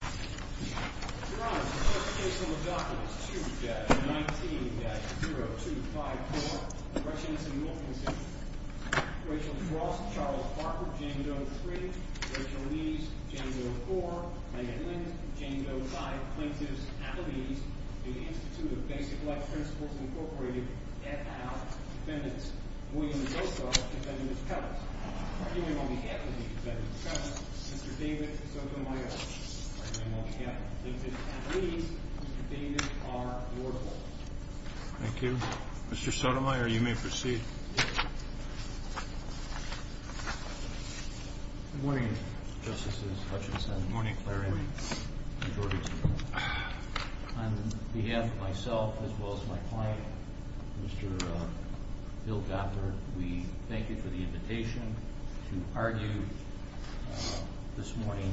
Your Honor, the first case on the docket is 2-19-0254, the Russians and Wilkinson. Rachel Dross, Charles Barker, Jane Doe 3, Rachel Lees, Jane Doe 4, Megan Lind, Jane Doe 5, plaintiffs, athletes, the Institute of Basic Life Principles, Inc., et al., defendants, William Doecoe, defendant's cousin. Arguing on behalf of the defendant's cousin, Mr. David Sotomayor. Arguing on behalf of the plaintiffs' athletes, Mr. David R. Wardle. Thank you. Mr. Sotomayor, you may proceed. Good morning, Justices Hutchinson. Good morning, Clarence. Good morning, Mr. Jorgensen. On behalf of myself as well as my client, Mr. Bill Gottler, we thank you for the invitation to argue this morning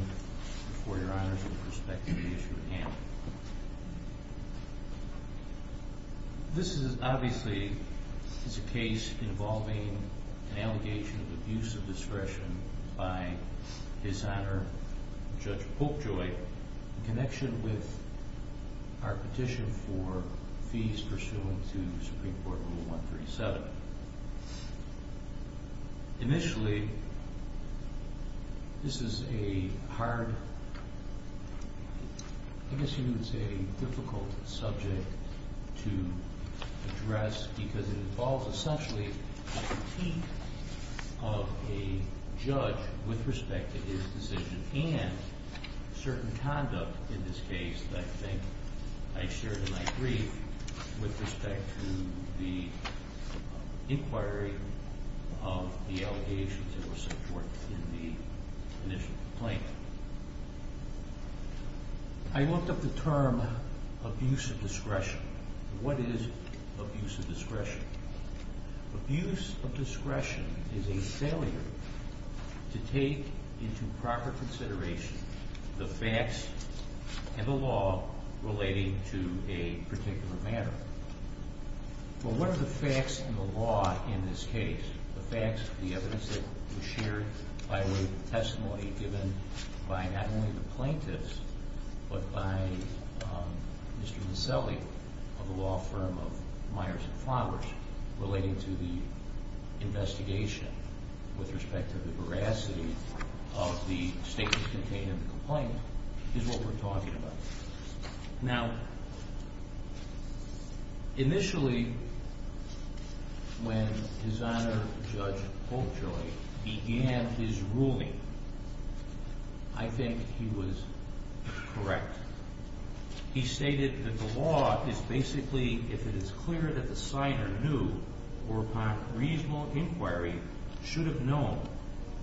before Your Honors with respect to the issue at hand. This is obviously a case involving an allegation of abuse of discretion by His Honor Judge Polkjoy in connection with our petition for fees pursuant to Supreme Court Rule 137. Initially, this is a hard, I guess you would say, difficult subject to address because it involves essentially a critique of a judge with respect to his decision and certain conduct in this case that I think I shared in my brief with respect to the inquiry of the allegations that were supported in the initial complaint. I looked up the term abuse of discretion. What is abuse of discretion? Abuse of discretion is a failure to take into proper consideration the facts and the law relating to a particular matter. But what are the facts and the law in this case? The facts, the evidence that was shared by way of testimony given by not only the plaintiffs, but by Mr. Mincelli of the law firm of Myers and Flowers relating to the investigation with respect to the veracity of the statement contained in the complaint is what we're talking about. Now, initially, when His Honor Judge Polkjoy began his ruling, I think he was correct. He stated that the law is basically, if it is clear that the signer knew or upon reasonable inquiry should have known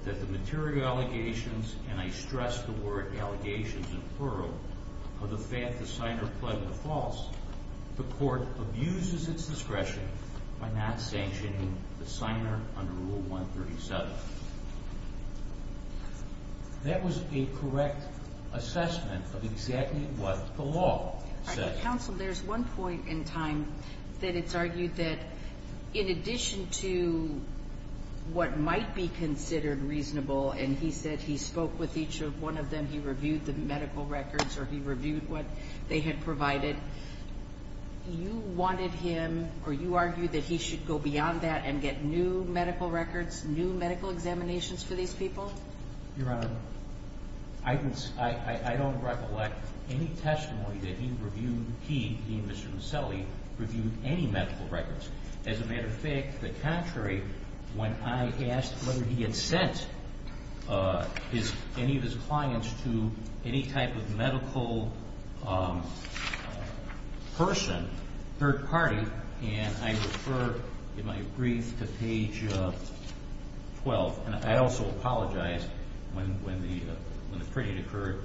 that the material allegations, and I stress the word allegations in plural, of the fact the signer pled the false, the court abuses its discretion by not sanctioning the signer under Rule 137. That was a correct assessment of exactly what the law says. Counsel, there's one point in time that it's argued that in addition to what might be considered reasonable, and he said he spoke with each one of them, he reviewed the medical records, or he reviewed what they had provided. You wanted him, or you argued that he should go beyond that and get new medical records, new medical examinations for these people? Your Honor, I don't recollect any testimony that he reviewed, he, Mr. Mincelli, reviewed any medical records. As a matter of fact, the contrary, when I asked whether he had sent any of his clients to any type of medical person, third party, and I refer in my brief to page 12, and I also apologize when the printing occurred,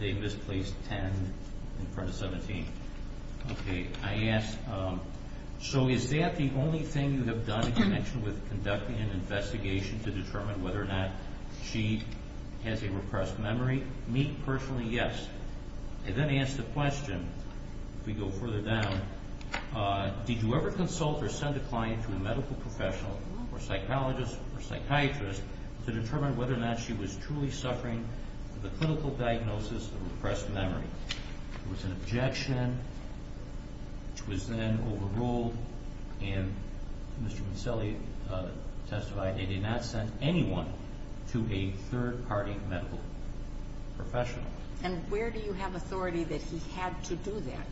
they misplaced 10 in front of 17. Okay, I ask, so is that the only thing you have done in connection with conducting an investigation to determine whether or not she has a repressed memory? Me, personally, yes. I then ask the question, if we go further down, did you ever consult or send a client to a medical professional, or psychologist, or psychiatrist, to determine whether or not she was truly suffering the clinical diagnosis of repressed memory? There was an objection, which was then overruled, and Mr. Mincelli testified they did not send anyone to a third party medical professional. And where do you have authority that he had to do that?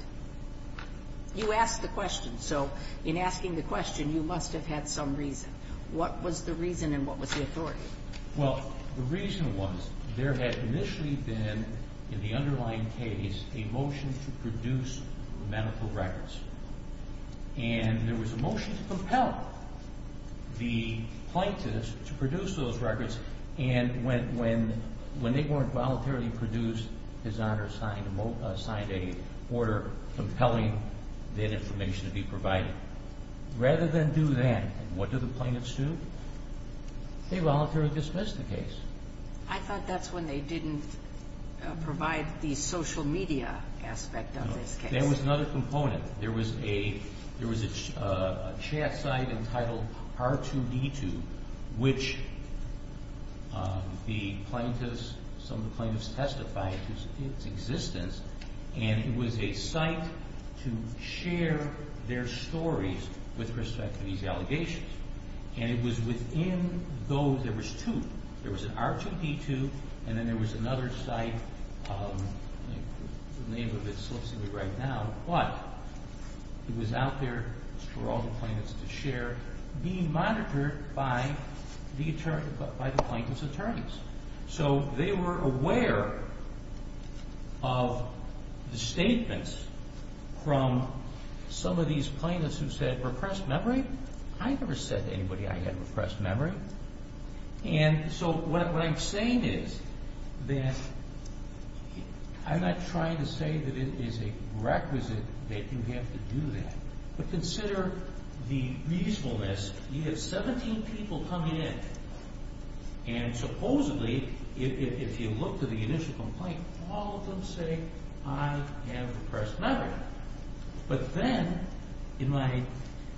You asked the question, so in asking the question, you must have had some reason. What was the reason and what was the authority? Well, the reason was there had initially been, in the underlying case, a motion to produce medical records. And there was a motion to compel the plaintiffs to produce those records, and when they weren't voluntarily produced, his Honor signed a order compelling that information to be provided. Rather than do that, what do the plaintiffs do? They voluntarily dismiss the case. I thought that's when they didn't provide the social media aspect of this case. There was another component. There was a chat site entitled R2D2, which some of the plaintiffs testified to its existence, and it was a site to share their stories with respect to these allegations. And it was within those, there was two, there was an R2D2 and then there was another site, the name of it slips into me right now, but it was out there for all the plaintiffs to share, being monitored by the plaintiff's attorneys. So they were aware of the statements from some of these plaintiffs who said, repressed memory? I never said to anybody I had repressed memory. And so what I'm saying is that I'm not trying to say that it is a requisite that you have to do that, but consider the reasonableness. You have 17 people coming in, and supposedly, if you look to the initial complaint, all of them say, I have repressed memory. But then, in my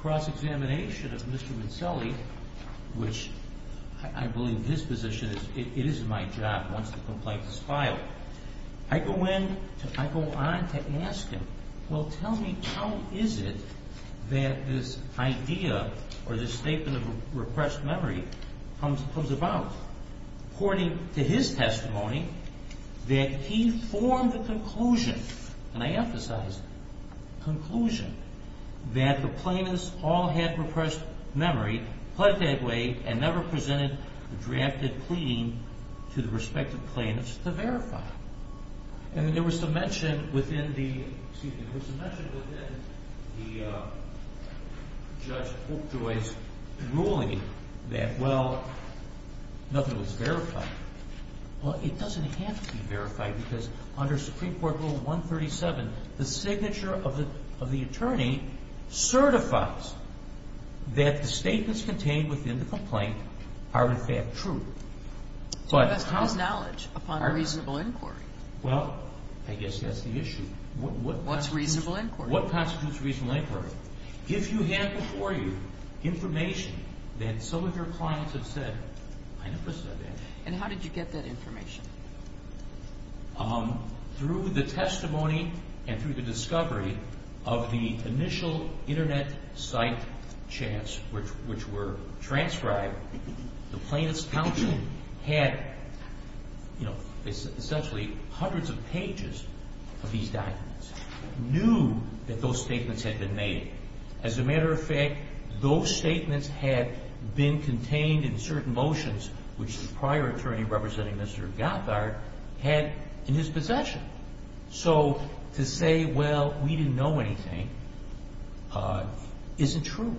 cross-examination of Mr. Mincelli, which I believe his position is, it is my job once the complaint is filed, I go in, I go on to ask him, well, tell me how is it that this idea or this statement of repressed memory comes about? According to his testimony, that he formed the conclusion, and I emphasize conclusion, that the plaintiffs all had repressed memory, pled that way, and never presented a drafted plea to the respective plaintiffs to verify. And there was some mention within the Judge Oakjoy's ruling that, well, nothing was verified. Well, it doesn't have to be verified, because under Supreme Court Rule 137, the signature of the attorney certifies that the statements contained within the complaint are, in fact, true. So that's to his knowledge, upon reasonable inquiry. Well, I guess that's the issue. What's reasonable inquiry? What constitutes reasonable inquiry? If you have before you information that some of your clients have said, I never said that. And how did you get that information? Through the testimony and through the discovery of the initial Internet site chats, which were transcribed, the plaintiffs' counsel had, you know, essentially hundreds of pages of these documents, knew that those statements had been made. As a matter of fact, those statements had been contained in certain motions, which the prior attorney representing Mr. Gotthard had in his possession. So to say, well, we didn't know anything, isn't true.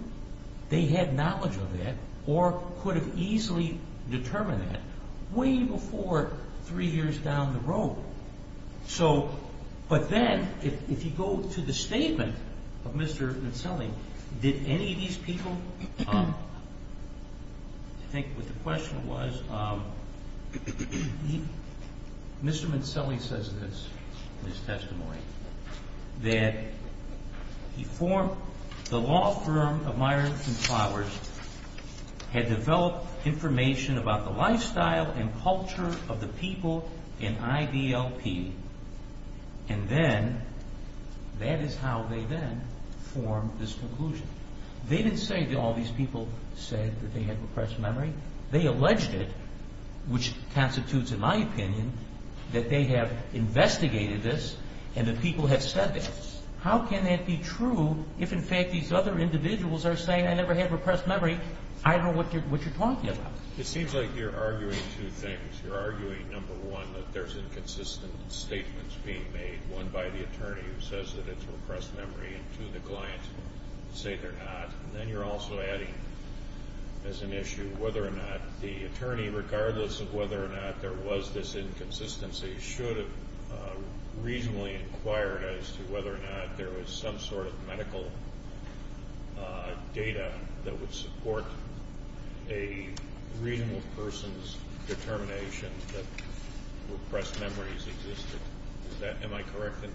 They had knowledge of that or could have easily determined that way before three years down the road. But then, if you go to the statement of Mr. Mincelli, did any of these people – I think what the question was, Mr. Mincelli says this in his testimony, that the law firm of Myers and Flowers had developed information about the lifestyle and culture of the people in IDLP. And then, that is how they then formed this conclusion. They didn't say that all these people said that they had repressed memory. They alleged it, which constitutes, in my opinion, that they have investigated this and that people have said this. How can that be true if, in fact, these other individuals are saying, I never had repressed memory? I don't know what you're talking about. It seems like you're arguing two things. You're arguing, number one, that there's inconsistent statements being made, one by the attorney who says that it's repressed memory, and two, the clients say they're not. And then you're also adding, as an issue, whether or not the attorney, regardless of whether or not there was this inconsistency, should have reasonably inquired as to whether or not there was some sort of medical data that would support a reasonable person's determination that repressed memories existed. Am I correct in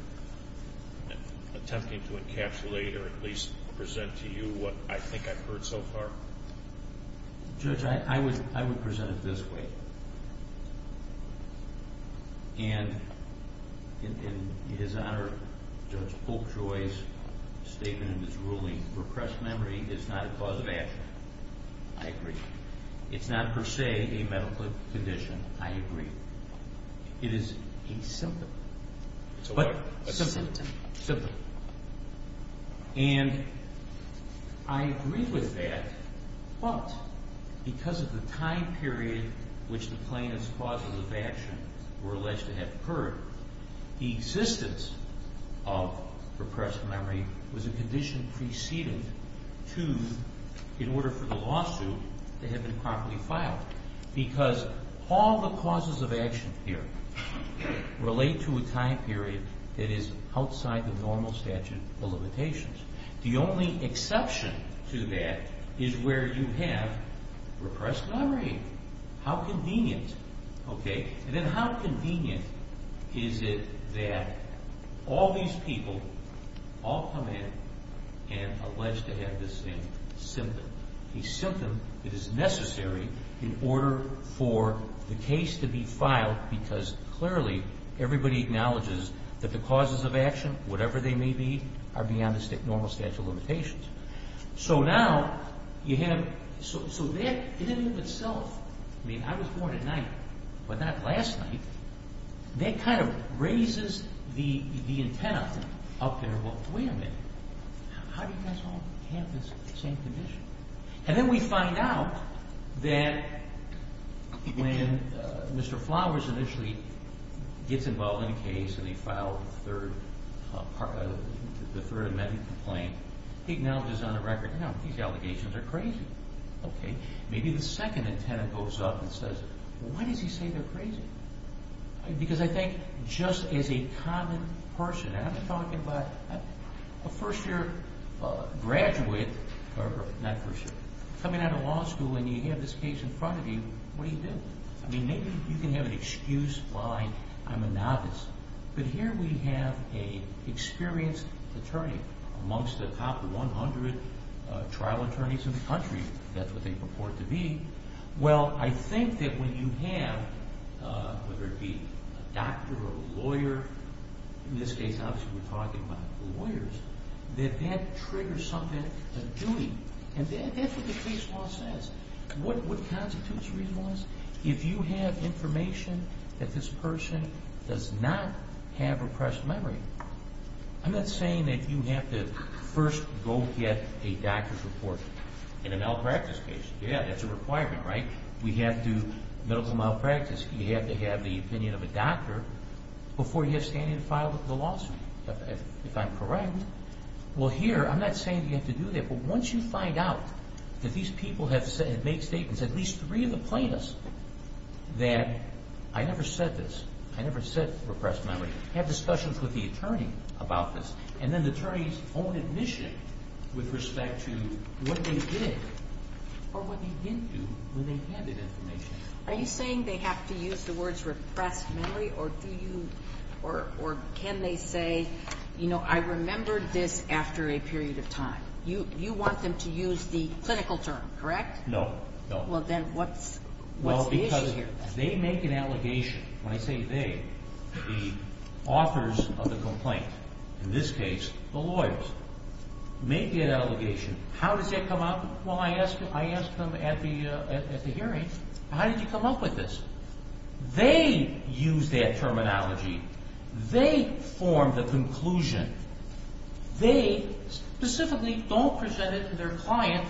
attempting to encapsulate or at least present to you what I think I've heard so far? Judge, I would present it this way. And in his honor, Judge Polkjoy's statement in his ruling, repressed memory is not a cause of action. I agree. It's not, per se, a medical condition. I agree. It is a symptom. It's a what? A symptom. A symptom. And I agree with that, but because of the time period which the plaintiff's causes of action were alleged to have occurred, the existence of repressed memory was a condition preceded to, in order for the lawsuit to have been properly filed. Because all the causes of action here relate to a time period that is outside the normal statute of limitations. The only exception to that is where you have repressed memory. How convenient, okay? And then how convenient is it that all these people all come in and allege to have this same symptom? A symptom that is necessary in order for the case to be filed because clearly everybody acknowledges that the causes of action, whatever they may be, are beyond the normal statute of limitations. So now you have, so that in and of itself, I mean, I was born at night, but not last night. That kind of raises the antenna up there. Well, wait a minute. How do you guys all have this same condition? And then we find out that when Mr. Flowers initially gets involved in a case and they file the third amendment complaint, he acknowledges on the record, no, these allegations are crazy. Okay. Maybe the second antenna goes up and says, well, why does he say they're crazy? Because I think just as a common person, and I'm talking about a first-year graduate, or not first-year, coming out of law school and you have this case in front of you, what do you do? I mean, maybe you can have an excuse why I'm a novice. But here we have an experienced attorney amongst the top 100 trial attorneys in the country. That's what they purport to be. Well, I think that when you have, whether it be a doctor or a lawyer, in this case, obviously we're talking about lawyers, that that triggers something of duty. And that's what the police law says. What constitutes reasonableness? If you have information that this person does not have repressed memory, I'm not saying that you have to first go get a doctor's report in a malpractice case. Yeah, that's a requirement, right? We have to, medical malpractice, you have to have the opinion of a doctor before you have standing to file the lawsuit, if I'm correct. Well, here, I'm not saying that you have to do that, but once you find out that these people have made statements, at least three of the plaintiffs, that I never said this, I never said repressed memory, have discussions with the attorney about this, and then the attorney's own admission with respect to what they did or what they didn't do when they had that information. Are you saying they have to use the words repressed memory? Or do you, or can they say, you know, I remembered this after a period of time? You want them to use the clinical term, correct? No, no. Well, then what's the issue here? Well, because they make an allegation, when I say they, the authors of the complaint, in this case, the lawyers, make the allegation. How does that come up? Well, I ask them at the hearing, how did you come up with this? They use that terminology. They form the conclusion. They specifically don't present it to their client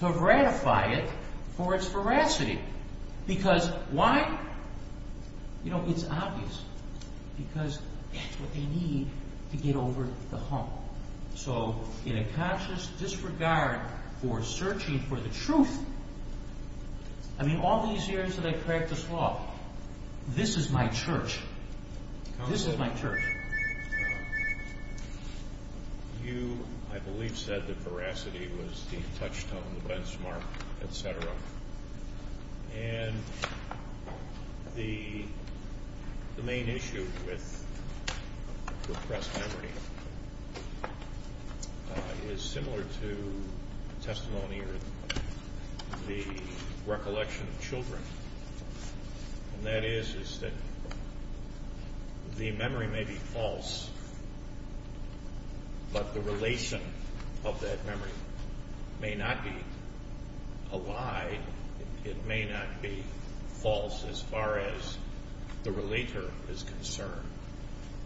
to ratify it for its veracity. Because why? You know, it's obvious. Because that's what they need to get over the hump. So in a conscious disregard for searching for the truth, I mean, all these years that I practiced law, this is my church. This is my church. You, I believe, said that veracity was the touchstone, the benchmark, et cetera. And the main issue with repressed memory is similar to testimony or the recollection of children. And that is, is that the memory may be false, but the relation of that memory may not be a lie. It may not be false as far as the relator is concerned.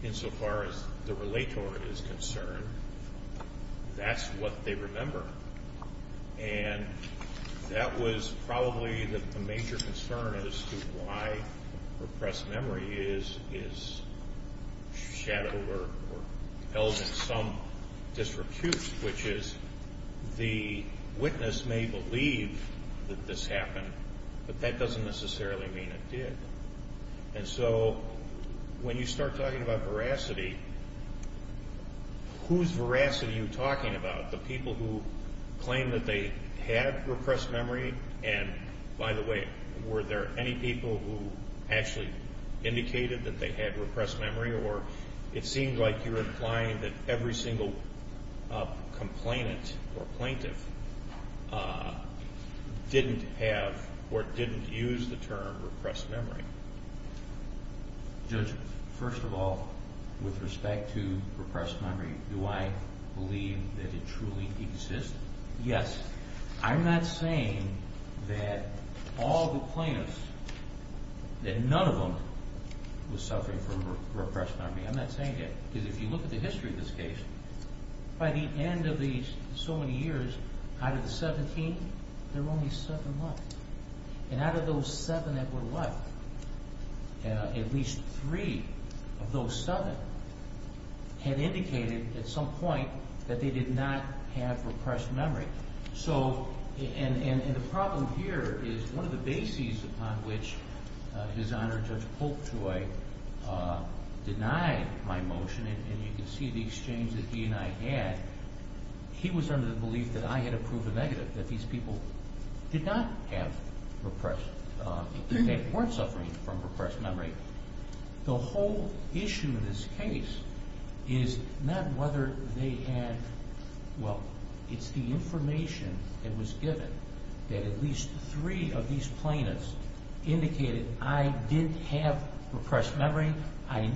Insofar as the relator is concerned, that's what they remember. And that was probably the major concern as to why repressed memory is shadowed or held in some disrepute, which is the witness may believe that this happened, but that doesn't necessarily mean it did. And so when you start talking about veracity, whose veracity are you talking about? The people who claim that they had repressed memory? And, by the way, were there any people who actually indicated that they had repressed memory? Or it seems like you're implying that every single complainant or plaintiff didn't have or didn't use the term repressed memory. Judge, first of all, with respect to repressed memory, do I believe that it truly exists? Yes. I'm not saying that all the plaintiffs, that none of them was suffering from repressed memory. I'm not saying that. Because if you look at the history of this case, by the end of these so many years, out of the 17, there were only seven left. And out of those seven that were left, at least three of those seven had indicated at some point that they did not have repressed memory. And the problem here is one of the bases upon which His Honor Judge Polktoy denied my motion, and you can see the exchange that he and I had, he was under the belief that I had approved a negative, that these people did not have repressed, that they weren't suffering from repressed memory. The whole issue in this case is not whether they had, well, it's the information that was given that at least three of these plaintiffs indicated I did have repressed memory, I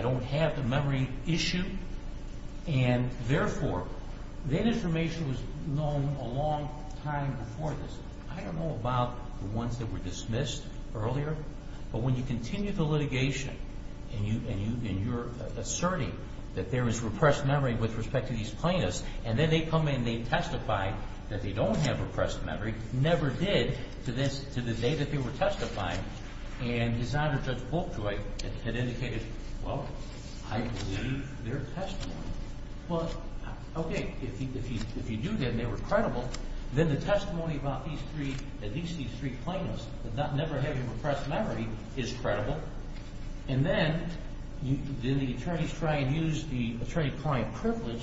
don't have the memory issue, and therefore that information was known a long time before this. I don't know about the ones that were dismissed earlier, but when you continue the litigation and you're asserting that there is repressed memory with respect to these plaintiffs, and then they come in and they testify that they don't have repressed memory, never did to the day that they were testifying, and His Honor Judge Polktoy had indicated, well, I believe their testimony. Well, okay, if you do then they were credible, then the testimony about these three, at least these three plaintiffs that never had repressed memory is credible, and then the attorneys try and use the attorney-client privilege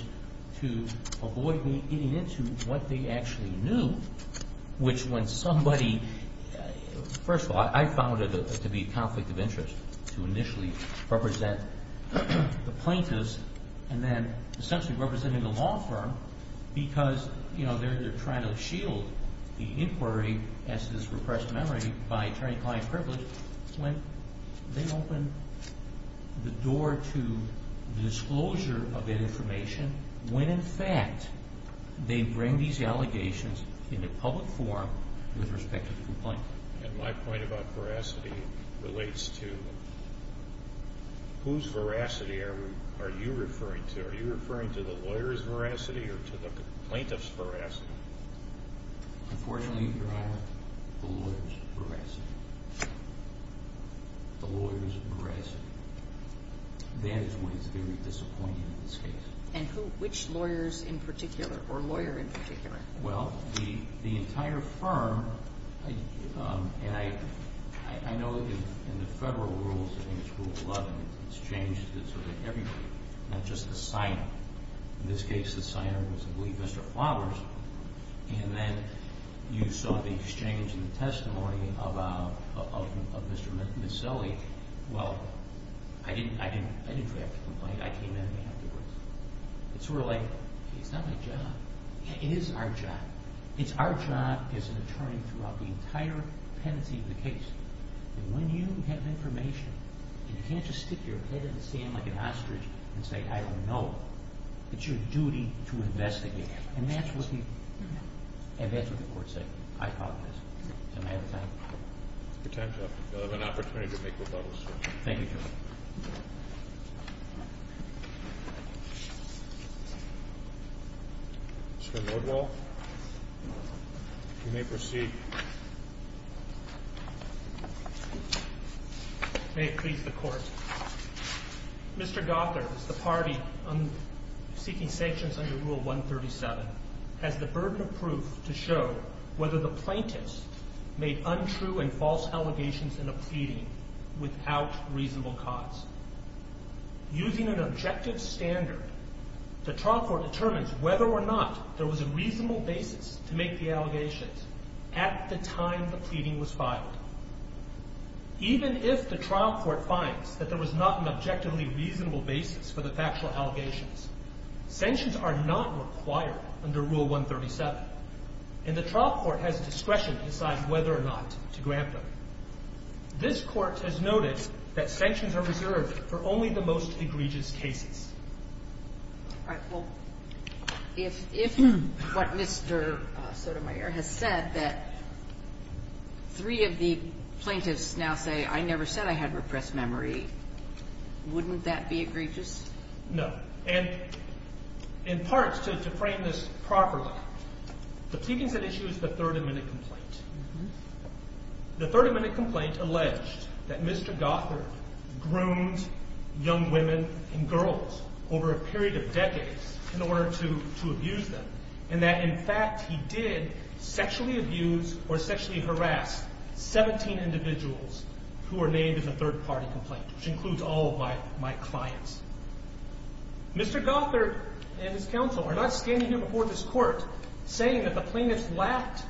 to avoid me getting into what they actually knew, which when somebody, first of all, I found it to be a conflict of interest to initially represent the plaintiffs and then essentially representing the law firm because, you know, they're trying to shield the inquiry as to this repressed memory by attorney-client privilege when they open the door to the disclosure of that information, when in fact they bring these allegations in a public forum with respect to the complaint. And my point about veracity relates to whose veracity are you referring to? Are you referring to the lawyer's veracity or to the plaintiff's veracity? Unfortunately, Your Honor, the lawyer's veracity. The lawyer's veracity. That is what is very disappointing in this case. And who, which lawyers in particular or lawyer in particular? Well, the entire firm, and I know in the federal rules, I think it's Rule 11, it's changed it so that everybody, not just the signer. In this case, the signer was, I believe, Mr. Flowers. And then you saw the exchange and the testimony of Ms. Sully. Well, I didn't react to the complaint. I came in afterwards. It's sort of like, it's not my job. It is our job. It's our job as an attorney throughout the entire pendency of the case. And when you have information and you can't just stick your head in the sand like an ostrich and say, I don't know, it's your duty to investigate. And that's what the court said. I apologize. Am I out of time? Your time's up. You'll have an opportunity to make rebuttals, sir. Thank you, Your Honor. Mr. Lordwell, you may proceed. May it please the Court. Mr. Gothard, the party seeking sanctions under Rule 137, has the burden of proof to show whether the plaintiffs made untrue and false allegations in a pleading without reasonable cause. Using an objective standard, the trial court determines whether or not there was a reasonable basis to make the allegations at the time the pleading was filed. Even if the trial court finds that there was not an objectively reasonable basis for the factual allegations, sanctions are not required under Rule 137, and the trial court has discretion to decide whether or not to grant them. This Court has noted that sanctions are reserved for only the most egregious cases. All right. Well, if what Mr. Sotomayor has said, that three of the plaintiffs now say, I never said I had repressed memory, wouldn't that be egregious? No. And in part, to frame this properly, the pleading's at issue is the 30-minute complaint. The 30-minute complaint alleged that Mr. Gothard groomed young women and girls over a period of decades in order to abuse them, and that, in fact, he did sexually abuse or sexually harass 17 individuals who were named in the third-party complaint, which includes all of my clients. Mr. Gothard and his counsel are not standing here before this Court saying that the plaintiffs lacked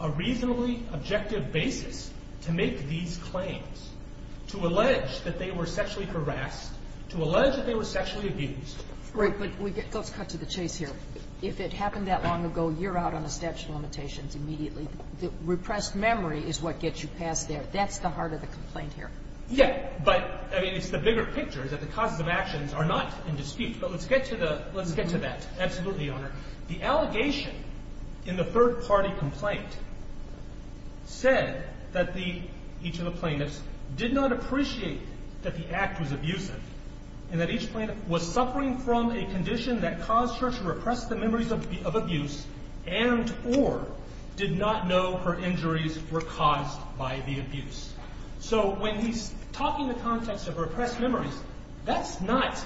a reasonably objective basis to make these claims, to allege that they were sexually harassed, to allege that they were sexually abused. Right. But let's cut to the chase here. If it happened that long ago, you're out on a statute of limitations immediately. The repressed memory is what gets you past there. That's the heart of the complaint here. Yeah. But, I mean, it's the bigger picture, that the causes of actions are not in dispute. But let's get to the – let's get to that. Absolutely, Your Honor. The allegation in the third-party complaint said that the – each of the plaintiffs did not appreciate that the act was abusive and that each plaintiff was suffering from a condition that caused her to repress the memories of abuse and or did not know her injuries were caused by the abuse. So when he's talking in the context of repressed memories, that's not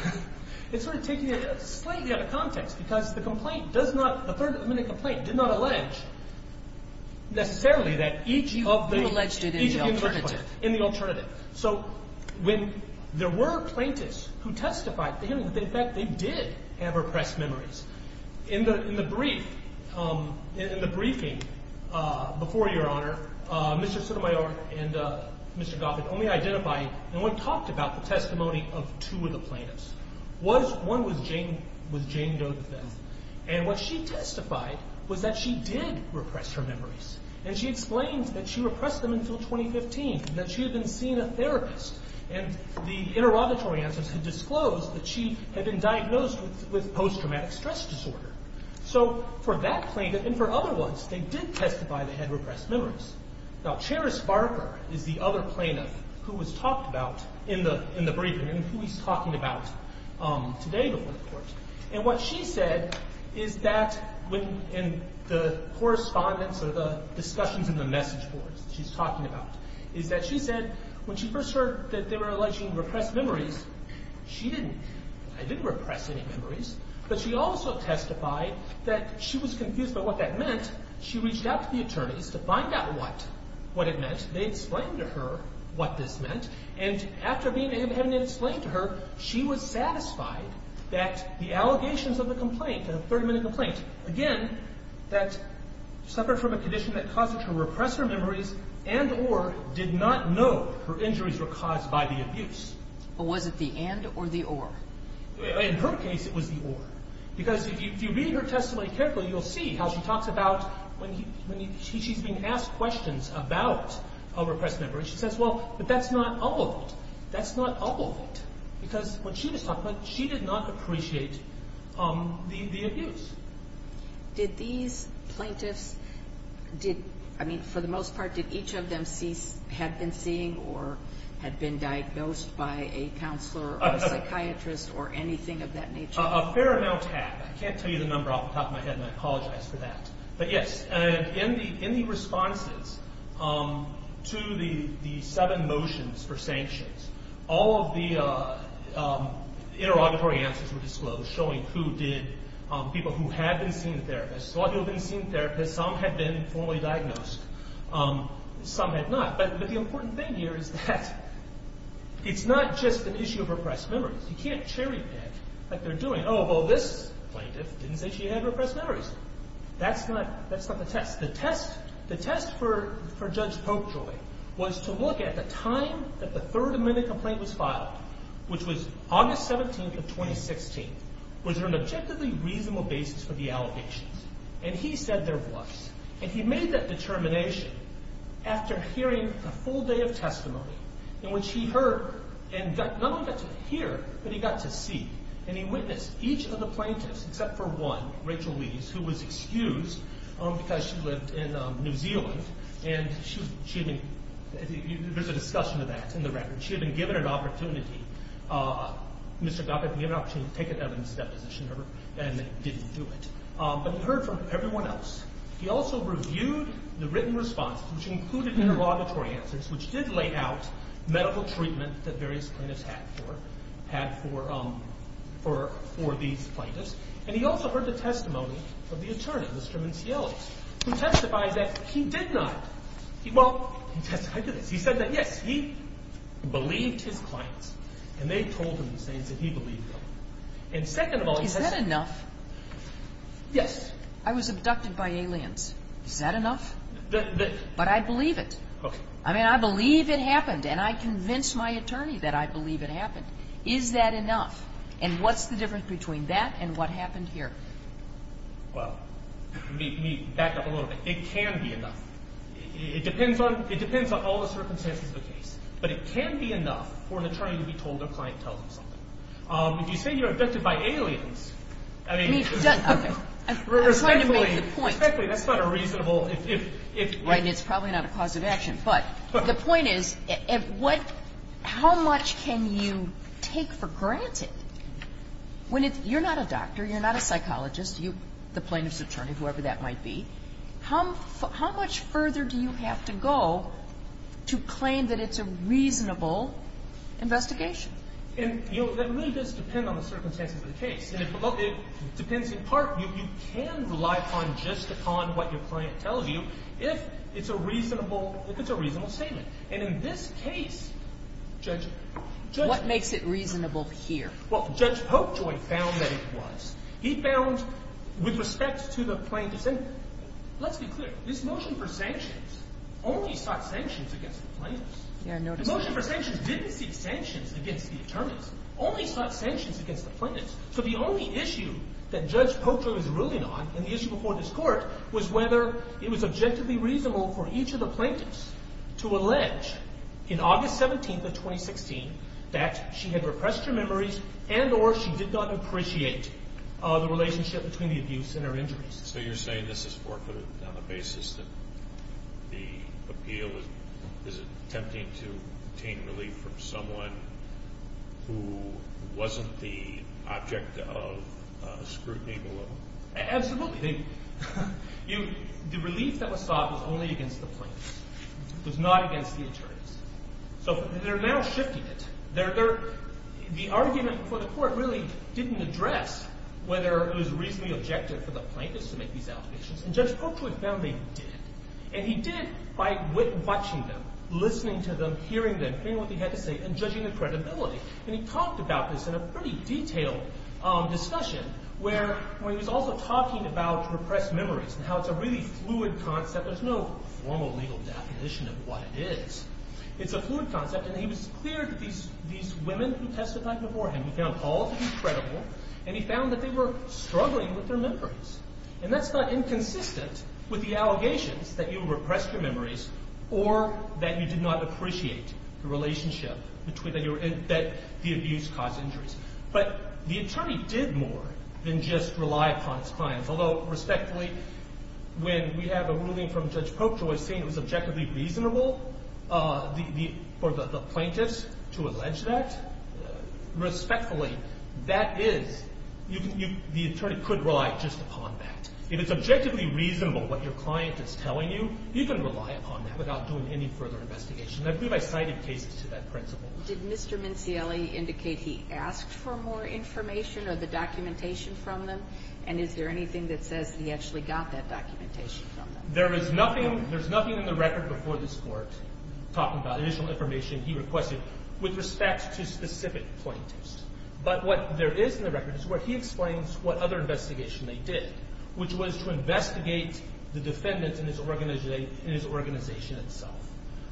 – it's sort of taking it slightly out of context because the complaint does not – the third-party complaint did not allege necessarily that each of the – You alleged it in the alternative. In the alternative. So when there were plaintiffs who testified, in fact, they did have repressed memories. In the brief – in the briefing before, Your Honor, Mr. Sotomayor and Mr. Goffert only identified and only talked about the testimony of two of the plaintiffs. One was Jane Doe DeVette. And what she testified was that she did repress her memories. And she explained that she repressed them until 2015 and that she had been seeing a therapist. And the interrogatory answers had disclosed that she had been diagnosed with post-traumatic stress disorder. So for that plaintiff and for other ones, they did testify they had repressed memories. Now, Charis Barker is the other plaintiff who was talked about in the briefing and who he's talking about today before the court. And what she said is that when – in the correspondence or the discussions in the message boards she's talking about is that she said when she first heard that they were alleging repressed memories, she didn't – I didn't repress any memories. But she also testified that she was confused by what that meant. She reached out to the attorneys to find out what it meant. They explained to her what this meant. And after having explained to her, she was satisfied that the allegations of the complaint, the 30-minute complaint, again, that suffered from a condition that caused her to repress her memories and or did not know her injuries were caused by the abuse. But was it the and or the or? In her case, it was the or. Because if you read her testimony carefully, you'll see how she talks about when she's being asked questions about a repressed memory. She says, well, but that's not all of it. That's not all of it. Because what she was talking about, she did not appreciate the abuse. Did these plaintiffs – I mean, for the most part, did each of them have been seeing or had been diagnosed by a counselor or a psychiatrist or anything of that nature? A fair amount had. I can't tell you the number off the top of my head, and I apologize for that. But yes, in the responses to the seven motions for sanctions, all of the interrogatory answers were disclosed, showing who did – people who had been seeing therapists, a lot of people had been seeing therapists. Some had been formally diagnosed. Some had not. But the important thing here is that it's not just an issue of repressed memories. You can't cherry pick like they're doing. Oh, well, this plaintiff didn't say she had repressed memories. That's not the test. The test for Judge Popejoy was to look at the time that the third amendment complaint was filed, which was August 17th of 2016. Was there an objectively reasonable basis for the allegations? And he said there was. And he made that determination after hearing a full day of testimony in which he heard and not only got to hear, but he got to see. And he witnessed each of the plaintiffs except for one, Rachel Weaves, who was excused because she lived in New Zealand. And she had been – there's a discussion of that in the record. She had been given an opportunity – Mr. Goppett had been given an opportunity to take an evidence deposition, and didn't do it. But he heard from everyone else. He also reviewed the written responses, which included interrogatory answers, which did lay out medical treatment that various plaintiffs had for these plaintiffs. And he also heard the testimony of the attorney, Mr. Minciello, who testified that he did not – well, he testified to this. He said that, yes, he believed his clients, and they told him the same, so he believed them. And second of all, he testified – Is that enough? Yes. I was abducted by aliens. Is that enough? But I believe it. Okay. I mean, I believe it happened, and I convinced my attorney that I believe it happened. Is that enough? And what's the difference between that and what happened here? Well, let me back up a little bit. It can be enough. It depends on – it depends on all the circumstances of the case. But it can be enough for an attorney to be told their client tells them something. If you say you were abducted by aliens, I mean – I'm trying to make the point. Respectfully, that's not a reasonable – Right, and it's probably not a cause of action. But the point is, what – how much can you take for granted when it's – you're not a doctor, you're not a psychologist, you're the plaintiff's attorney, whoever that might be. How much further do you have to go to claim that it's a reasonable investigation? And, you know, that really does depend on the circumstances of the case. And it depends in part – you can rely upon just upon what your client tells you. If it's a reasonable – if it's a reasonable statement. And in this case, Judge – What makes it reasonable here? Well, Judge Popejoy found that it was. He found, with respect to the plaintiff's – and let's be clear, this motion for sanctions only sought sanctions against the plaintiffs. Yeah, I noticed that. The motion for sanctions didn't seek sanctions against the attorneys. It only sought sanctions against the plaintiffs. So the only issue that Judge Popejoy was ruling on in the issue before this court was whether it was objectively reasonable for each of the plaintiffs to allege in August 17th of 2016 that she had repressed her memories and or she did not appreciate the relationship between the abuse and her injuries. So you're saying this is forfeited on the basis that the appeal is attempting to obtain relief from someone who wasn't the object of scrutiny below? Absolutely. The relief that was sought was only against the plaintiffs. It was not against the attorneys. So they're now shifting it. The argument before the court really didn't address whether it was reasonably objective for the plaintiffs to make these allegations. And Judge Popejoy found they did. And he did by watching them, listening to them, hearing them, hearing what they had to say, and judging the credibility. And he talked about this in a pretty detailed discussion where he was also talking about repressed memories and how it's a really fluid concept. There's no formal legal definition of what it is. It's a fluid concept. And he was clear that these women who testified before him, he found all to be credible, and he found that they were struggling with their memories. And that's not inconsistent with the allegations that you repressed your memories or that you did not appreciate the relationship that the abuse caused injuries. But the attorney did more than just rely upon his clients. Although, respectfully, when we have a ruling from Judge Popejoy saying it was objectively reasonable for the plaintiffs to allege that, respectfully, that is, the attorney could rely just upon that. If it's objectively reasonable what your client is telling you, you can rely upon that without doing any further investigation. And I believe I cited cases to that principle. Did Mr. Mincielli indicate he asked for more information or the documentation from them? And is there anything that says he actually got that documentation from them? There is nothing in the record before this court talking about additional information he requested with respect to specific plaintiffs. But what there is in the record is where he explains what other investigation they did, which was to investigate the defendants in his organization itself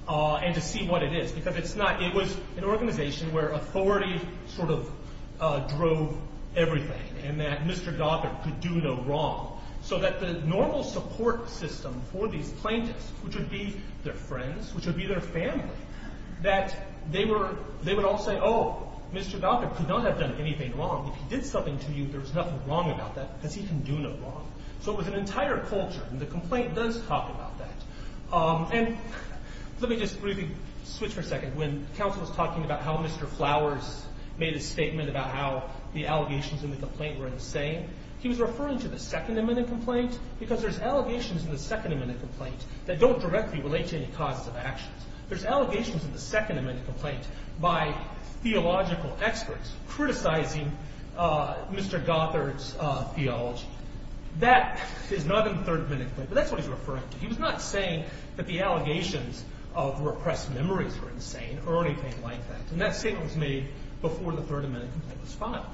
and to see what it is. Because it was an organization where authority sort of drove everything and that Mr. Gothard could do no wrong. So that the normal support system for these plaintiffs, which would be their friends, which would be their family, that they would all say, oh, Mr. Gothard could not have done anything wrong. If he did something to you, there was nothing wrong about that because he can do no wrong. So it was an entire culture. And the complaint does talk about that. And let me just briefly switch for a second. When counsel was talking about how Mr. Flowers made a statement about how the allegations in the complaint were insane, he was referring to the Second Amendment complaint because there's allegations in the Second Amendment complaint that don't directly relate to any causes of actions. There's allegations in the Second Amendment complaint by theological experts criticizing Mr. Gothard's theology. That is not in the Third Amendment complaint, but that's what he's referring to. He was not saying that the allegations of repressed memories were insane or anything like that. And that statement was made before the Third Amendment complaint was filed.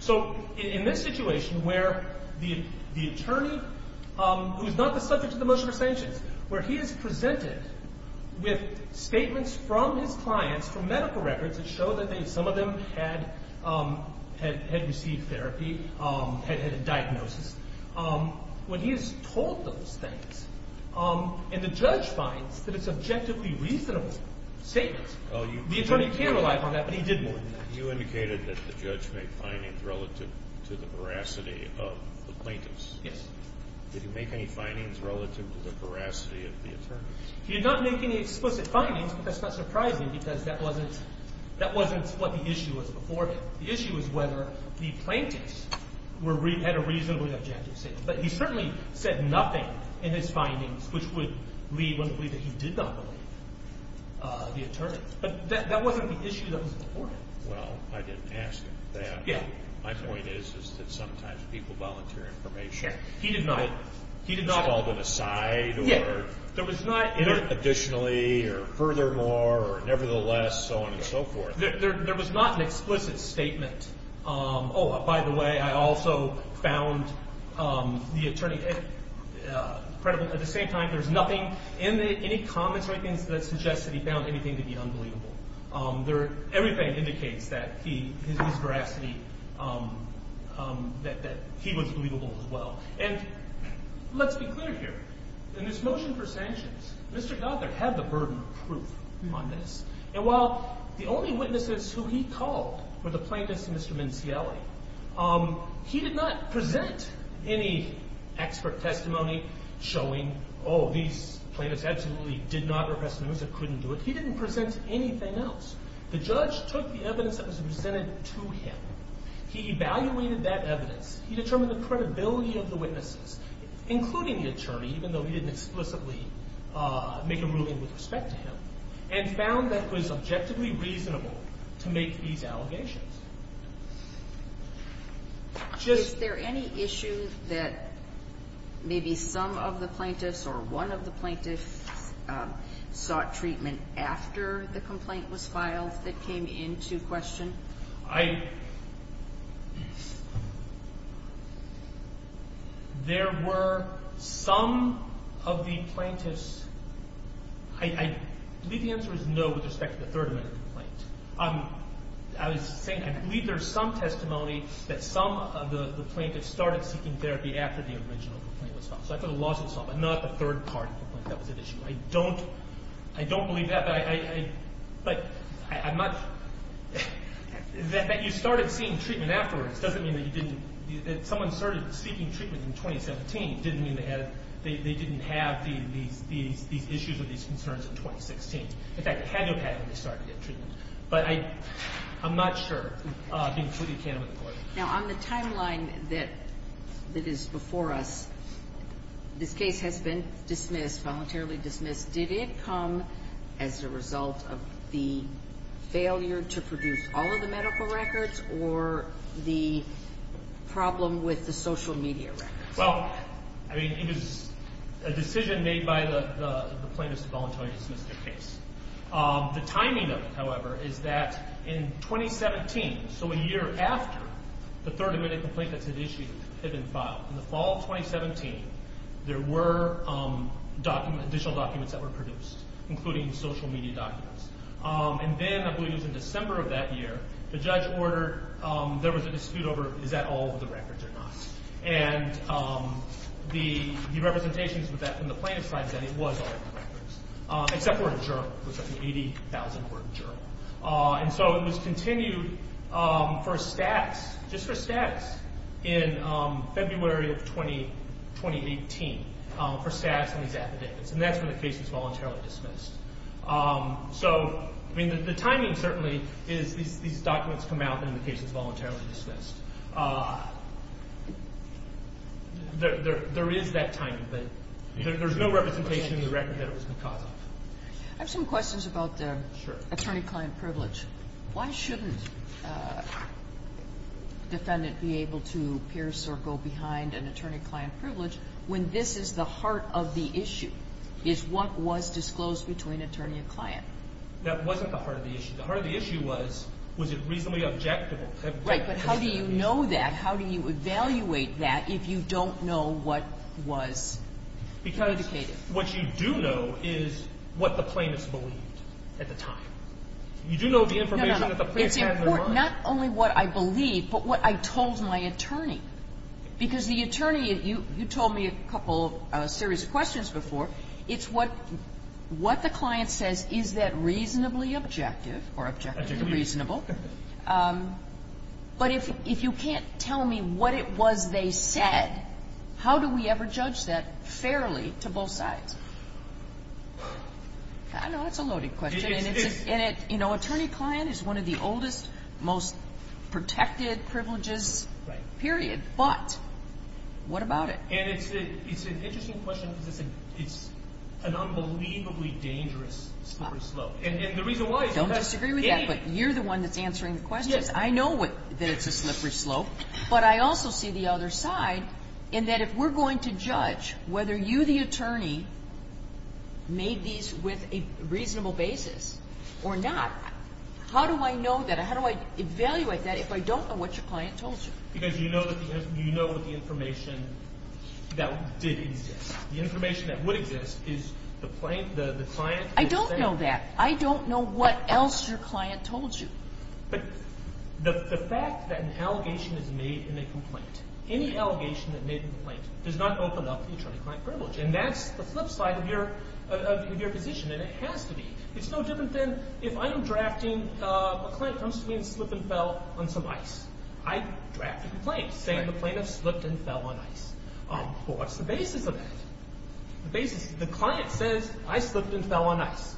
So in this situation where the attorney, who's not the subject of the motion for sanctions, where he is presented with statements from his clients from medical records that show that some of them had received therapy, had had a diagnosis, when he is told those things and the judge finds that it's objectively reasonable statements, the attorney can rely on that, but he didn't. You indicated that the judge made findings relative to the veracity of the plaintiffs. Yes. Did he make any findings relative to the veracity of the attorneys? He did not make any explicit findings, but that's not surprising because that wasn't what the issue was before him. The issue was whether the plaintiffs had a reasonably objective statement. But he certainly said nothing in his findings which would lead one to believe that he did not believe the attorney. But that wasn't the issue that was before him. Well, I didn't ask him that. My point is that sometimes people volunteer information. He did not. He was called an aside or additionally or furthermore or nevertheless, so on and so forth. There was not an explicit statement, oh, by the way, I also found the attorney credible. At the same time, there's nothing in any comments or anything that suggests that he found anything to be unbelievable. Everything indicates that his veracity, that he was believable as well. And let's be clear here. In this motion for sanctions, Mr. Godler had the burden of proof on this. And while the only witnesses who he called were the plaintiffs and Mr. Mincielli, he did not present any expert testimony showing, oh, these plaintiffs absolutely did not repress the news or couldn't do it. He didn't present anything else. The judge took the evidence that was presented to him. He evaluated that evidence. He determined the credibility of the witnesses, including the attorney, even though he didn't explicitly make a ruling with respect to him, and found that it was objectively reasonable to make these allegations. Is there any issue that maybe some of the plaintiffs or one of the plaintiffs sought treatment after the complaint was filed that came into question? There were some of the plaintiffs. I believe the answer is no with respect to the third amendment complaint. I was saying I believe there's some testimony that some of the plaintiffs started seeking therapy after the original complaint was filed. So I thought the lawsuit was solved, but not the third party complaint that was at issue. I don't believe that. But I'm not – that you started seeing treatment afterwards doesn't mean that you didn't – that someone started seeking treatment in 2017 didn't mean they had – they didn't have these issues or these concerns in 2016. In fact, they had them when they started getting treatment. But I'm not sure, including the third amendment complaint. Now, on the timeline that is before us, this case has been dismissed, voluntarily dismissed. Did it come as a result of the failure to produce all of the medical records or the problem with the social media records? Well, I mean, it was a decision made by the plaintiffs to voluntarily dismiss their case. The timing of it, however, is that in 2017, so a year after the third amendment complaint that's at issue had been filed, in the fall of 2017, there were additional documents that were produced, including social media documents. And then, I believe it was in December of that year, the judge ordered – there was a dispute over is that all of the records or not. And the representations with that from the plaintiffs' side said it was all of the records, except for a journal. It was like an 80,000-word journal. And so it was continued for stats, just for stats, in February of 2018, for stats on these affidavits. And that's when the case was voluntarily dismissed. So, I mean, the timing, certainly, is these documents come out and the case is voluntarily dismissed. There is that timing, but there's no representation in the record that it was because of. I have some questions about the attorney-client privilege. Why shouldn't a defendant be able to pierce or go behind an attorney-client privilege when this is the heart of the issue, is what was disclosed between attorney and client? That wasn't the heart of the issue. The heart of the issue was, was it reasonably objective? Right, but how do you know that? How do you evaluate that if you don't know what was predicated? What you do know is what the plaintiffs believed at the time. You do know the information that the plaintiffs had in their mind. It's important, not only what I believe, but what I told my attorney. Because the attorney, you told me a couple of serious questions before. It's what the client says, is that reasonably objective or objectively reasonable? But if you can't tell me what it was they said, how do we ever judge that fairly to both sides? I know that's a loaded question. Attorney-client is one of the oldest, most protected privileges, period. But what about it? It's an interesting question because it's an unbelievably dangerous slippery slope. I don't disagree with that, but you're the one that's answering the questions. I know that it's a slippery slope, but I also see the other side in that if we're going to judge whether you, the attorney, made these with a reasonable basis or not, how do I know that? How do I evaluate that if I don't know what your client told you? Because you know the information that did exist. The information that would exist is the client. I don't know that. I don't know what else your client told you. But the fact that an allegation is made in a complaint, any allegation that made a complaint, does not open up the attorney-client privilege. And that's the flip side of your position, and it has to be. It's no different than if I'm drafting, a client comes to me and slipped and fell on some ice. I draft a complaint saying the plaintiff slipped and fell on ice. Well, what's the basis of that? The basis is the client says, I slipped and fell on ice.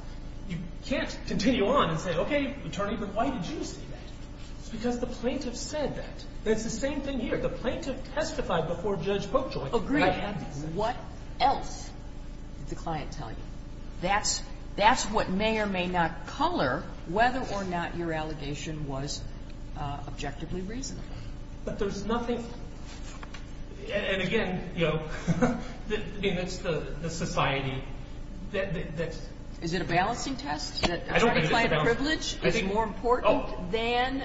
You can't continue on and say, okay, attorney, but why did you say that? It's because the plaintiff said that. It's the same thing here. The plaintiff testified before Judge Boakjoy. Agree. What else did the client tell you? That's what may or may not color whether or not your allegation was objectively reasonable. But there's nothing – and again, you know, I mean, it's the society that's – Is it a balancing test that attorney-client privilege is more important than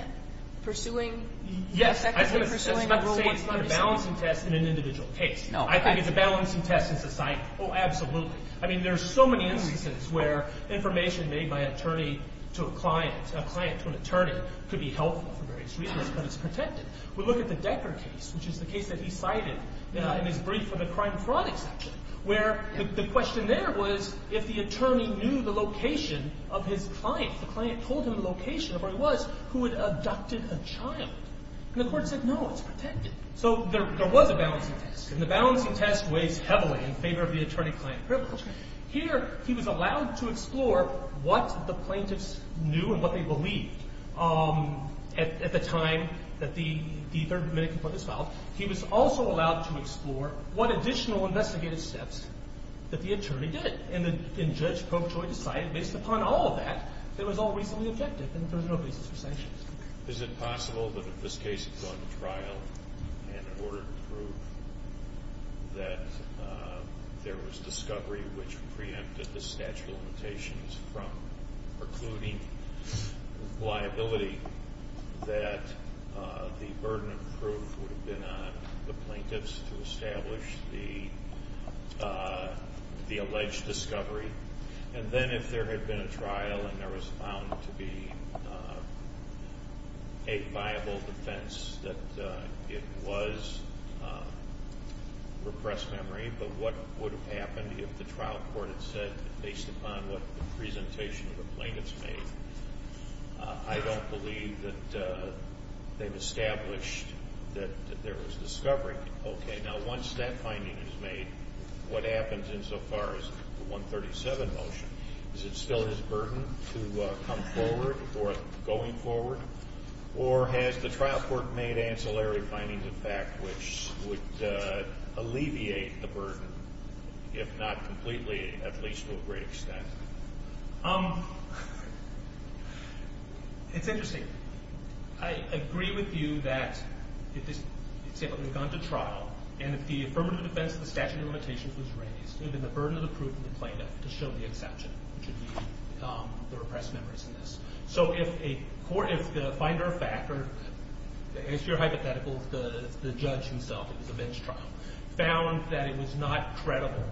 pursuing – Yes. That's not to say it's not a balancing test in an individual case. No. I think it's a balancing test in society. Oh, absolutely. I mean, there's so many instances where information made by an attorney to a client, a client to an attorney, could be helpful for various reasons, but it's protected. We look at the Decker case, which is the case that he cited in his brief for the crime fraud exception, where the question there was if the attorney knew the location of his client. The client told him the location of where he was who had abducted a child. And the court said, no, it's protected. So there was a balancing test, and the balancing test weighs heavily in favor of the attorney-client privilege. Here, he was allowed to explore what the plaintiffs knew and what they believed at the time that the Third Amendment was filed. He was also allowed to explore what additional investigative steps that the attorney did, and Judge Prochoy decided based upon all of that that it was all reasonably objective and there was no basis for sanctions. Is it possible that if this case had gone to trial and ordered proof that there was discovery which preempted the statute of limitations from precluding liability, that the burden of proof would have been on the plaintiffs to establish the alleged discovery? And then if there had been a trial and there was found to be a viable defense that it was repressed memory, but what would have happened if the trial court had said, based upon what the presentation of the plaintiffs made, I don't believe that they've established that there was discovery. Okay. Now once that finding is made, what happens insofar as the 137 motion? Is it still his burden to come forward or going forward? Or has the trial court made ancillary findings, in fact, which would alleviate the burden, if not completely, at least to a great extent? It's interesting. I agree with you that if this case had gone to trial and if the affirmative defense of the statute of limitations was raised, it would have been the burden of the proof on the plaintiff to show the exception, which would be the repressed memories in this. So if the finder of fact, or to answer your hypothetical, the judge himself, found that it was not credible,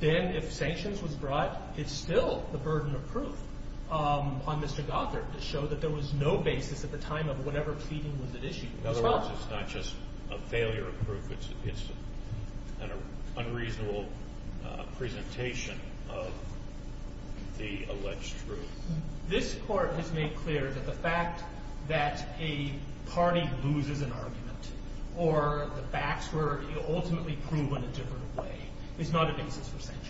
then if sanctions was brought, it's still the burden of proof on Mr. Gothard to show that there was no basis at the time of whatever pleading was at issue. In other words, it's not just a failure of proof. It's an unreasonable presentation of the alleged truth. This Court has made clear that the fact that a party loses an argument or the facts were ultimately proved in a different way is not a basis for sanctions.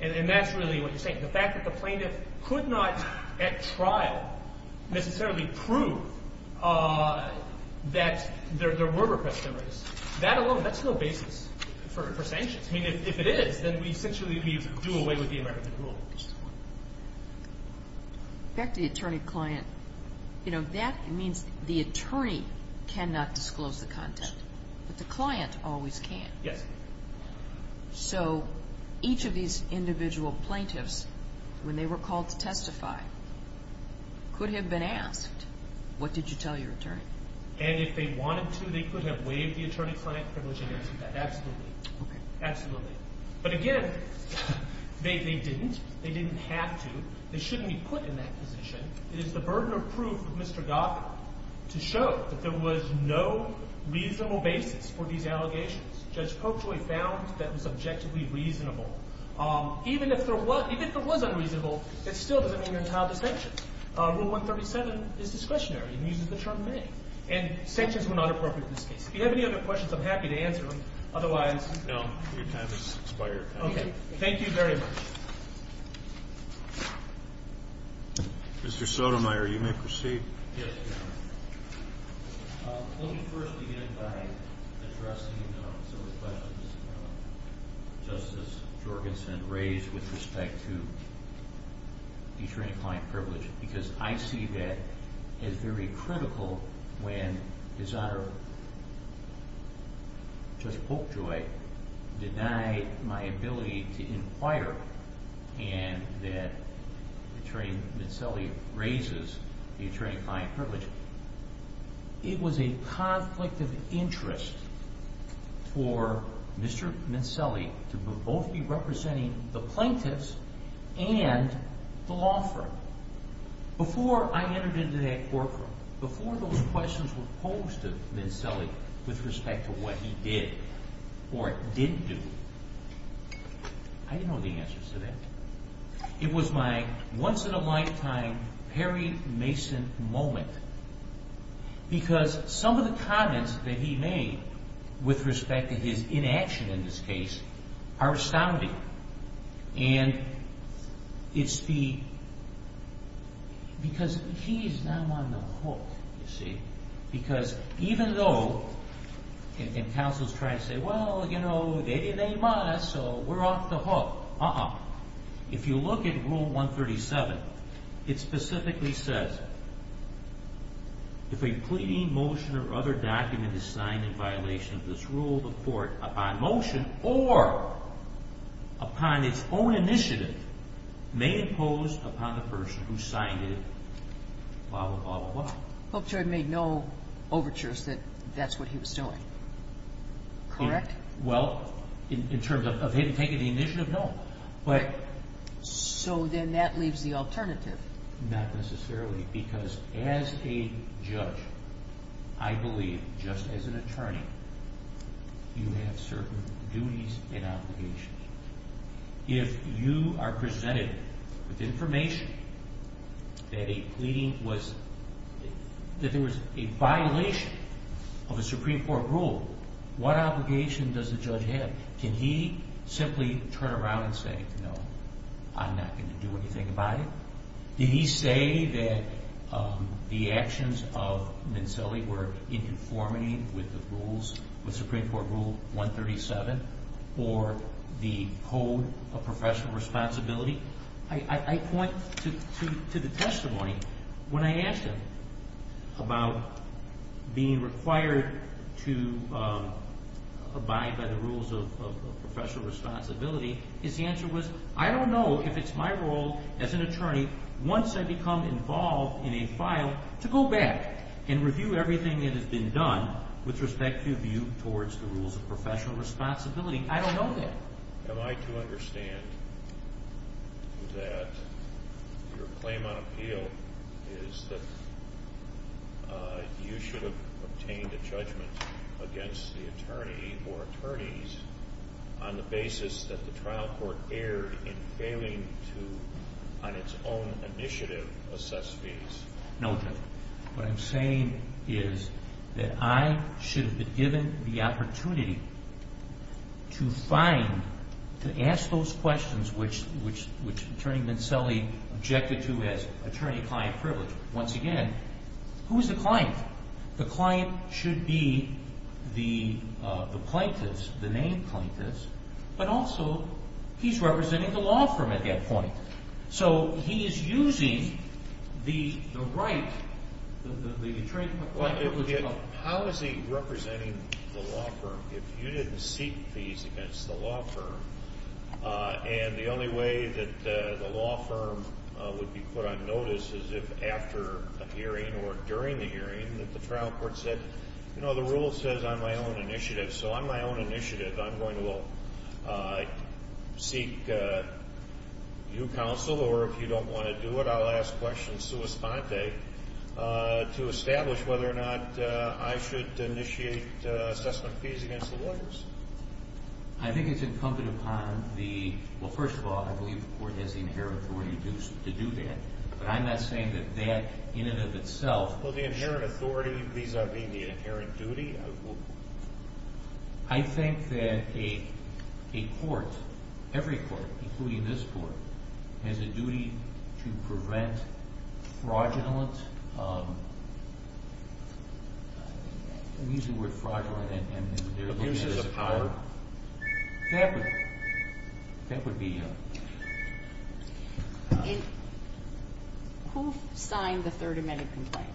And that's really what you're saying. The fact that the plaintiff could not at trial necessarily prove that there were repressed memories, that alone, that's no basis for sanctions. If it is, then we essentially do away with the American Rule. Back to the attorney-client. That means the attorney cannot disclose the content, but the client always can. Yes. So each of these individual plaintiffs, when they were called to testify, could have been asked, what did you tell your attorney? And if they wanted to, they could have waived the attorney-client privilege and answered that. Absolutely. Okay. Absolutely. But again, they didn't. They didn't have to. They shouldn't be put in that position. It is the burden of proof of Mr. Goffin to show that there was no reasonable basis for these allegations. Judge Polkjoy found that was objectively reasonable. Even if there was unreasonable, it still doesn't mean they're entitled to sanctions. Rule 137 is discretionary and uses the term may. And sanctions were not appropriate in this case. If you have any other questions, I'm happy to answer them. Otherwise. No. Your time has expired. Okay. Thank you very much. Mr. Sotomayor, you may proceed. Yes, Your Honor. Let me first begin by addressing some of the questions Justice Jorgensen raised with respect to the attorney-client privilege because I see that as very critical when His Honor, Judge Polkjoy, denied my ability to inquire and that Attorney Mincelli raises the attorney-client privilege. It was a conflict of interest for Mr. Mincelli to both be representing the plaintiffs and the law firm. Before I entered into that courtroom, before those questions were posed to Mincelli with respect to what he did or didn't do, I didn't know the answers to that. It was my once-in-a-lifetime Perry Mason moment because some of the comments that he made with respect to his inaction in this case are astounding. And it's the – because he's now on the hook, you see, because even though – and counsels try to say, well, you know, they must, so we're off the hook. Uh-uh. If you look at Rule 137, it specifically says, if a pleading motion or other document is signed in violation of this rule, the court, upon motion or upon its own initiative, may impose upon the person who signed it, blah, blah, blah, blah. Polkjoy made no overtures that that's what he was doing. Correct? Well, in terms of him taking the initiative, no. So then that leaves the alternative. Not necessarily, because as a judge, I believe, just as an attorney, you have certain duties and obligations. If you are presented with information that a pleading was – that there was a violation of a Supreme Court rule, what obligation does the judge have? Can he simply turn around and say, no, I'm not going to do anything about it? Did he say that the actions of Mincelli were in conformity with the rules – with Supreme Court Rule 137 or the code of professional responsibility? I point to the testimony when I asked him about being required to abide by the rules of professional responsibility. His answer was, I don't know if it's my role as an attorney, once I become involved in a file, to go back and review everything that has been done with respect to view towards the rules of professional responsibility. I don't know that. Am I to understand that your claim on appeal is that you should have obtained a judgment against the attorney or attorneys on the basis that the trial court erred in failing to, on its own initiative, assess fees? What I'm saying is that I should have been given the opportunity to find – to ask those questions which Attorney Mincelli objected to as attorney-client privilege. Once again, who is the client? The client should be the plaintiff, the named plaintiff, but also he's representing the law firm at that point. So he is using the right – the right privilege of the law firm. How is he representing the law firm? If you didn't seek fees against the law firm and the only way that the law firm would be put on notice is if after a hearing or during the hearing that the trial court said, you know, the rule says on my own initiative. So on my own initiative, I'm going to seek your counsel or if you don't want to do it, I'll ask questions sua sponte to establish whether or not I should initiate assessment fees against the lawyers. I think it's incumbent upon the – well, first of all, I believe the court has the inherent authority to do that, but I'm not saying that that in and of itself – Well, the inherent authority vis-a-vis the inherent duty of – I think that a court, every court, including this court, has a duty to prevent fraudulent – I'm using the word fraudulent and – Abuses of power? That would – that would be – Who signed the third amendment complaint?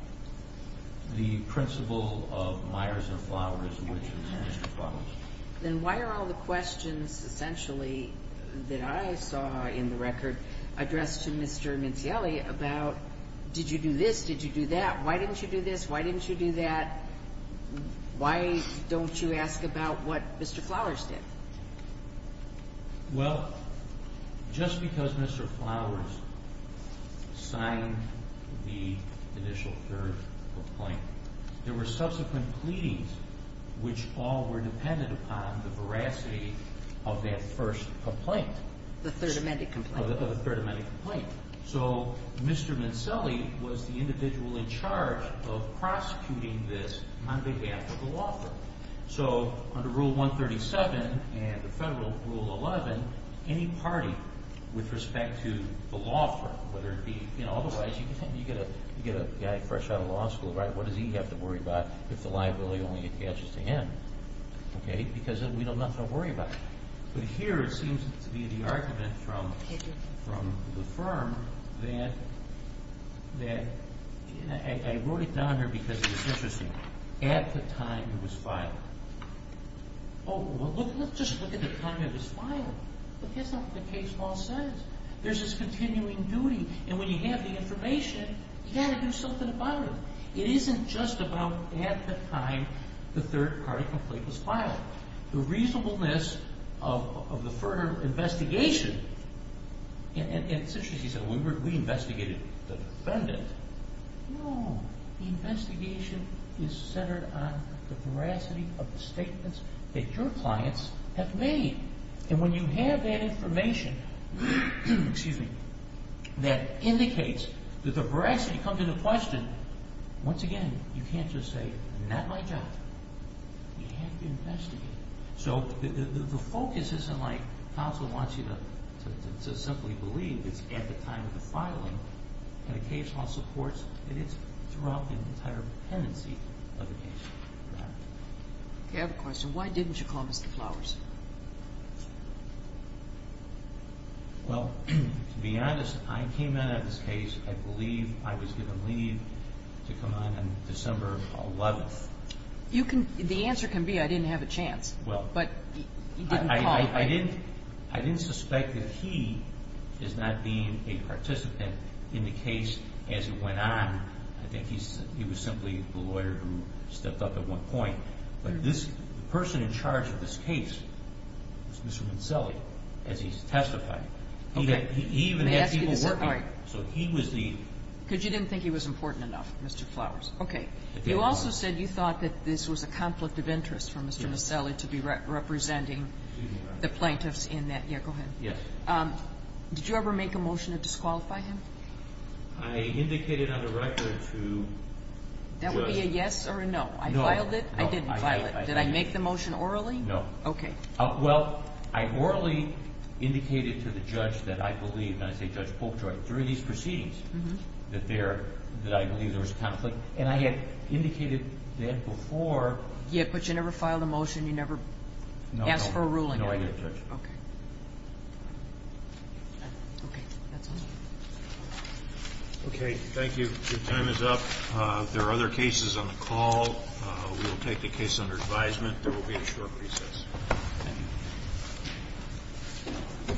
The principal of Myers and Flowers, which is Mr. Flowers. Then why are all the questions essentially that I saw in the record addressed to Mr. Mincielli about did you do this, did you do that, why didn't you do this, why didn't you do that? Why don't you ask about what Mr. Flowers did? Well, just because Mr. Flowers signed the initial third complaint, there were subsequent pleadings which all were dependent upon the veracity of that first complaint. The third amendment complaint? The third amendment complaint. So Mr. Mincielli was the individual in charge of prosecuting this on behalf of the law firm. So under Rule 137 and the federal Rule 11, any party with respect to the law firm, whether it be – you know, otherwise you get a guy fresh out of law school, right? What does he have to worry about if the liability only attaches to him? Okay? Because then we don't have nothing to worry about. But here it seems to be the argument from the firm that – I wrote it down here because it's interesting. At the time it was filed. Oh, well, let's just look at the time it was filed. That's not what the case law says. There's this continuing duty. And when you have the information, you've got to do something about it. It isn't just about at the time the third part of the complaint was filed. The reasonableness of the firm investigation – and it's interesting. He said we investigated the defendant. No. The investigation is centered on the veracity of the statements that your clients have made. And when you have that information that indicates that the veracity comes into question, once again, you can't just say, not my job. You have to investigate. So the focus isn't like counsel wants you to simply believe it's at the time of the filing. And the case law supports that it's throughout the entire pendency of the case. Okay, I have a question. Why didn't you call Mr. Flowers? Well, to be honest, I came in at this case. I believe I was given leave to come in on December 11th. The answer can be I didn't have a chance. But you didn't call him. I didn't suspect that he is not being a participant in the case as it went on. I think he was simply the lawyer who stepped up at one point. But this person in charge of this case was Mr. Minselli as he testified. He even had people working. So he was the – Because you didn't think he was important enough, Mr. Flowers. Okay. You also said you thought that this was a conflict of interest for Mr. Minselli to be representing the plaintiffs in that Yekohin. Yes. Did you ever make a motion to disqualify him? I indicated on the record to judge – That would be a yes or a no. I filed it. I didn't file it. Did I make the motion orally? No. Okay. Well, I orally indicated to the judge that I believe, and I say Judge Polkjoy, that there – that I believe there was conflict. And I had indicated that before. Yeah, but you never filed a motion. You never asked for a ruling. No, I did, Judge. Okay. Okay. That's all. Okay. Thank you. Your time is up. There are other cases on the call. We will take the case under advisement. There will be a short recess. Thank you.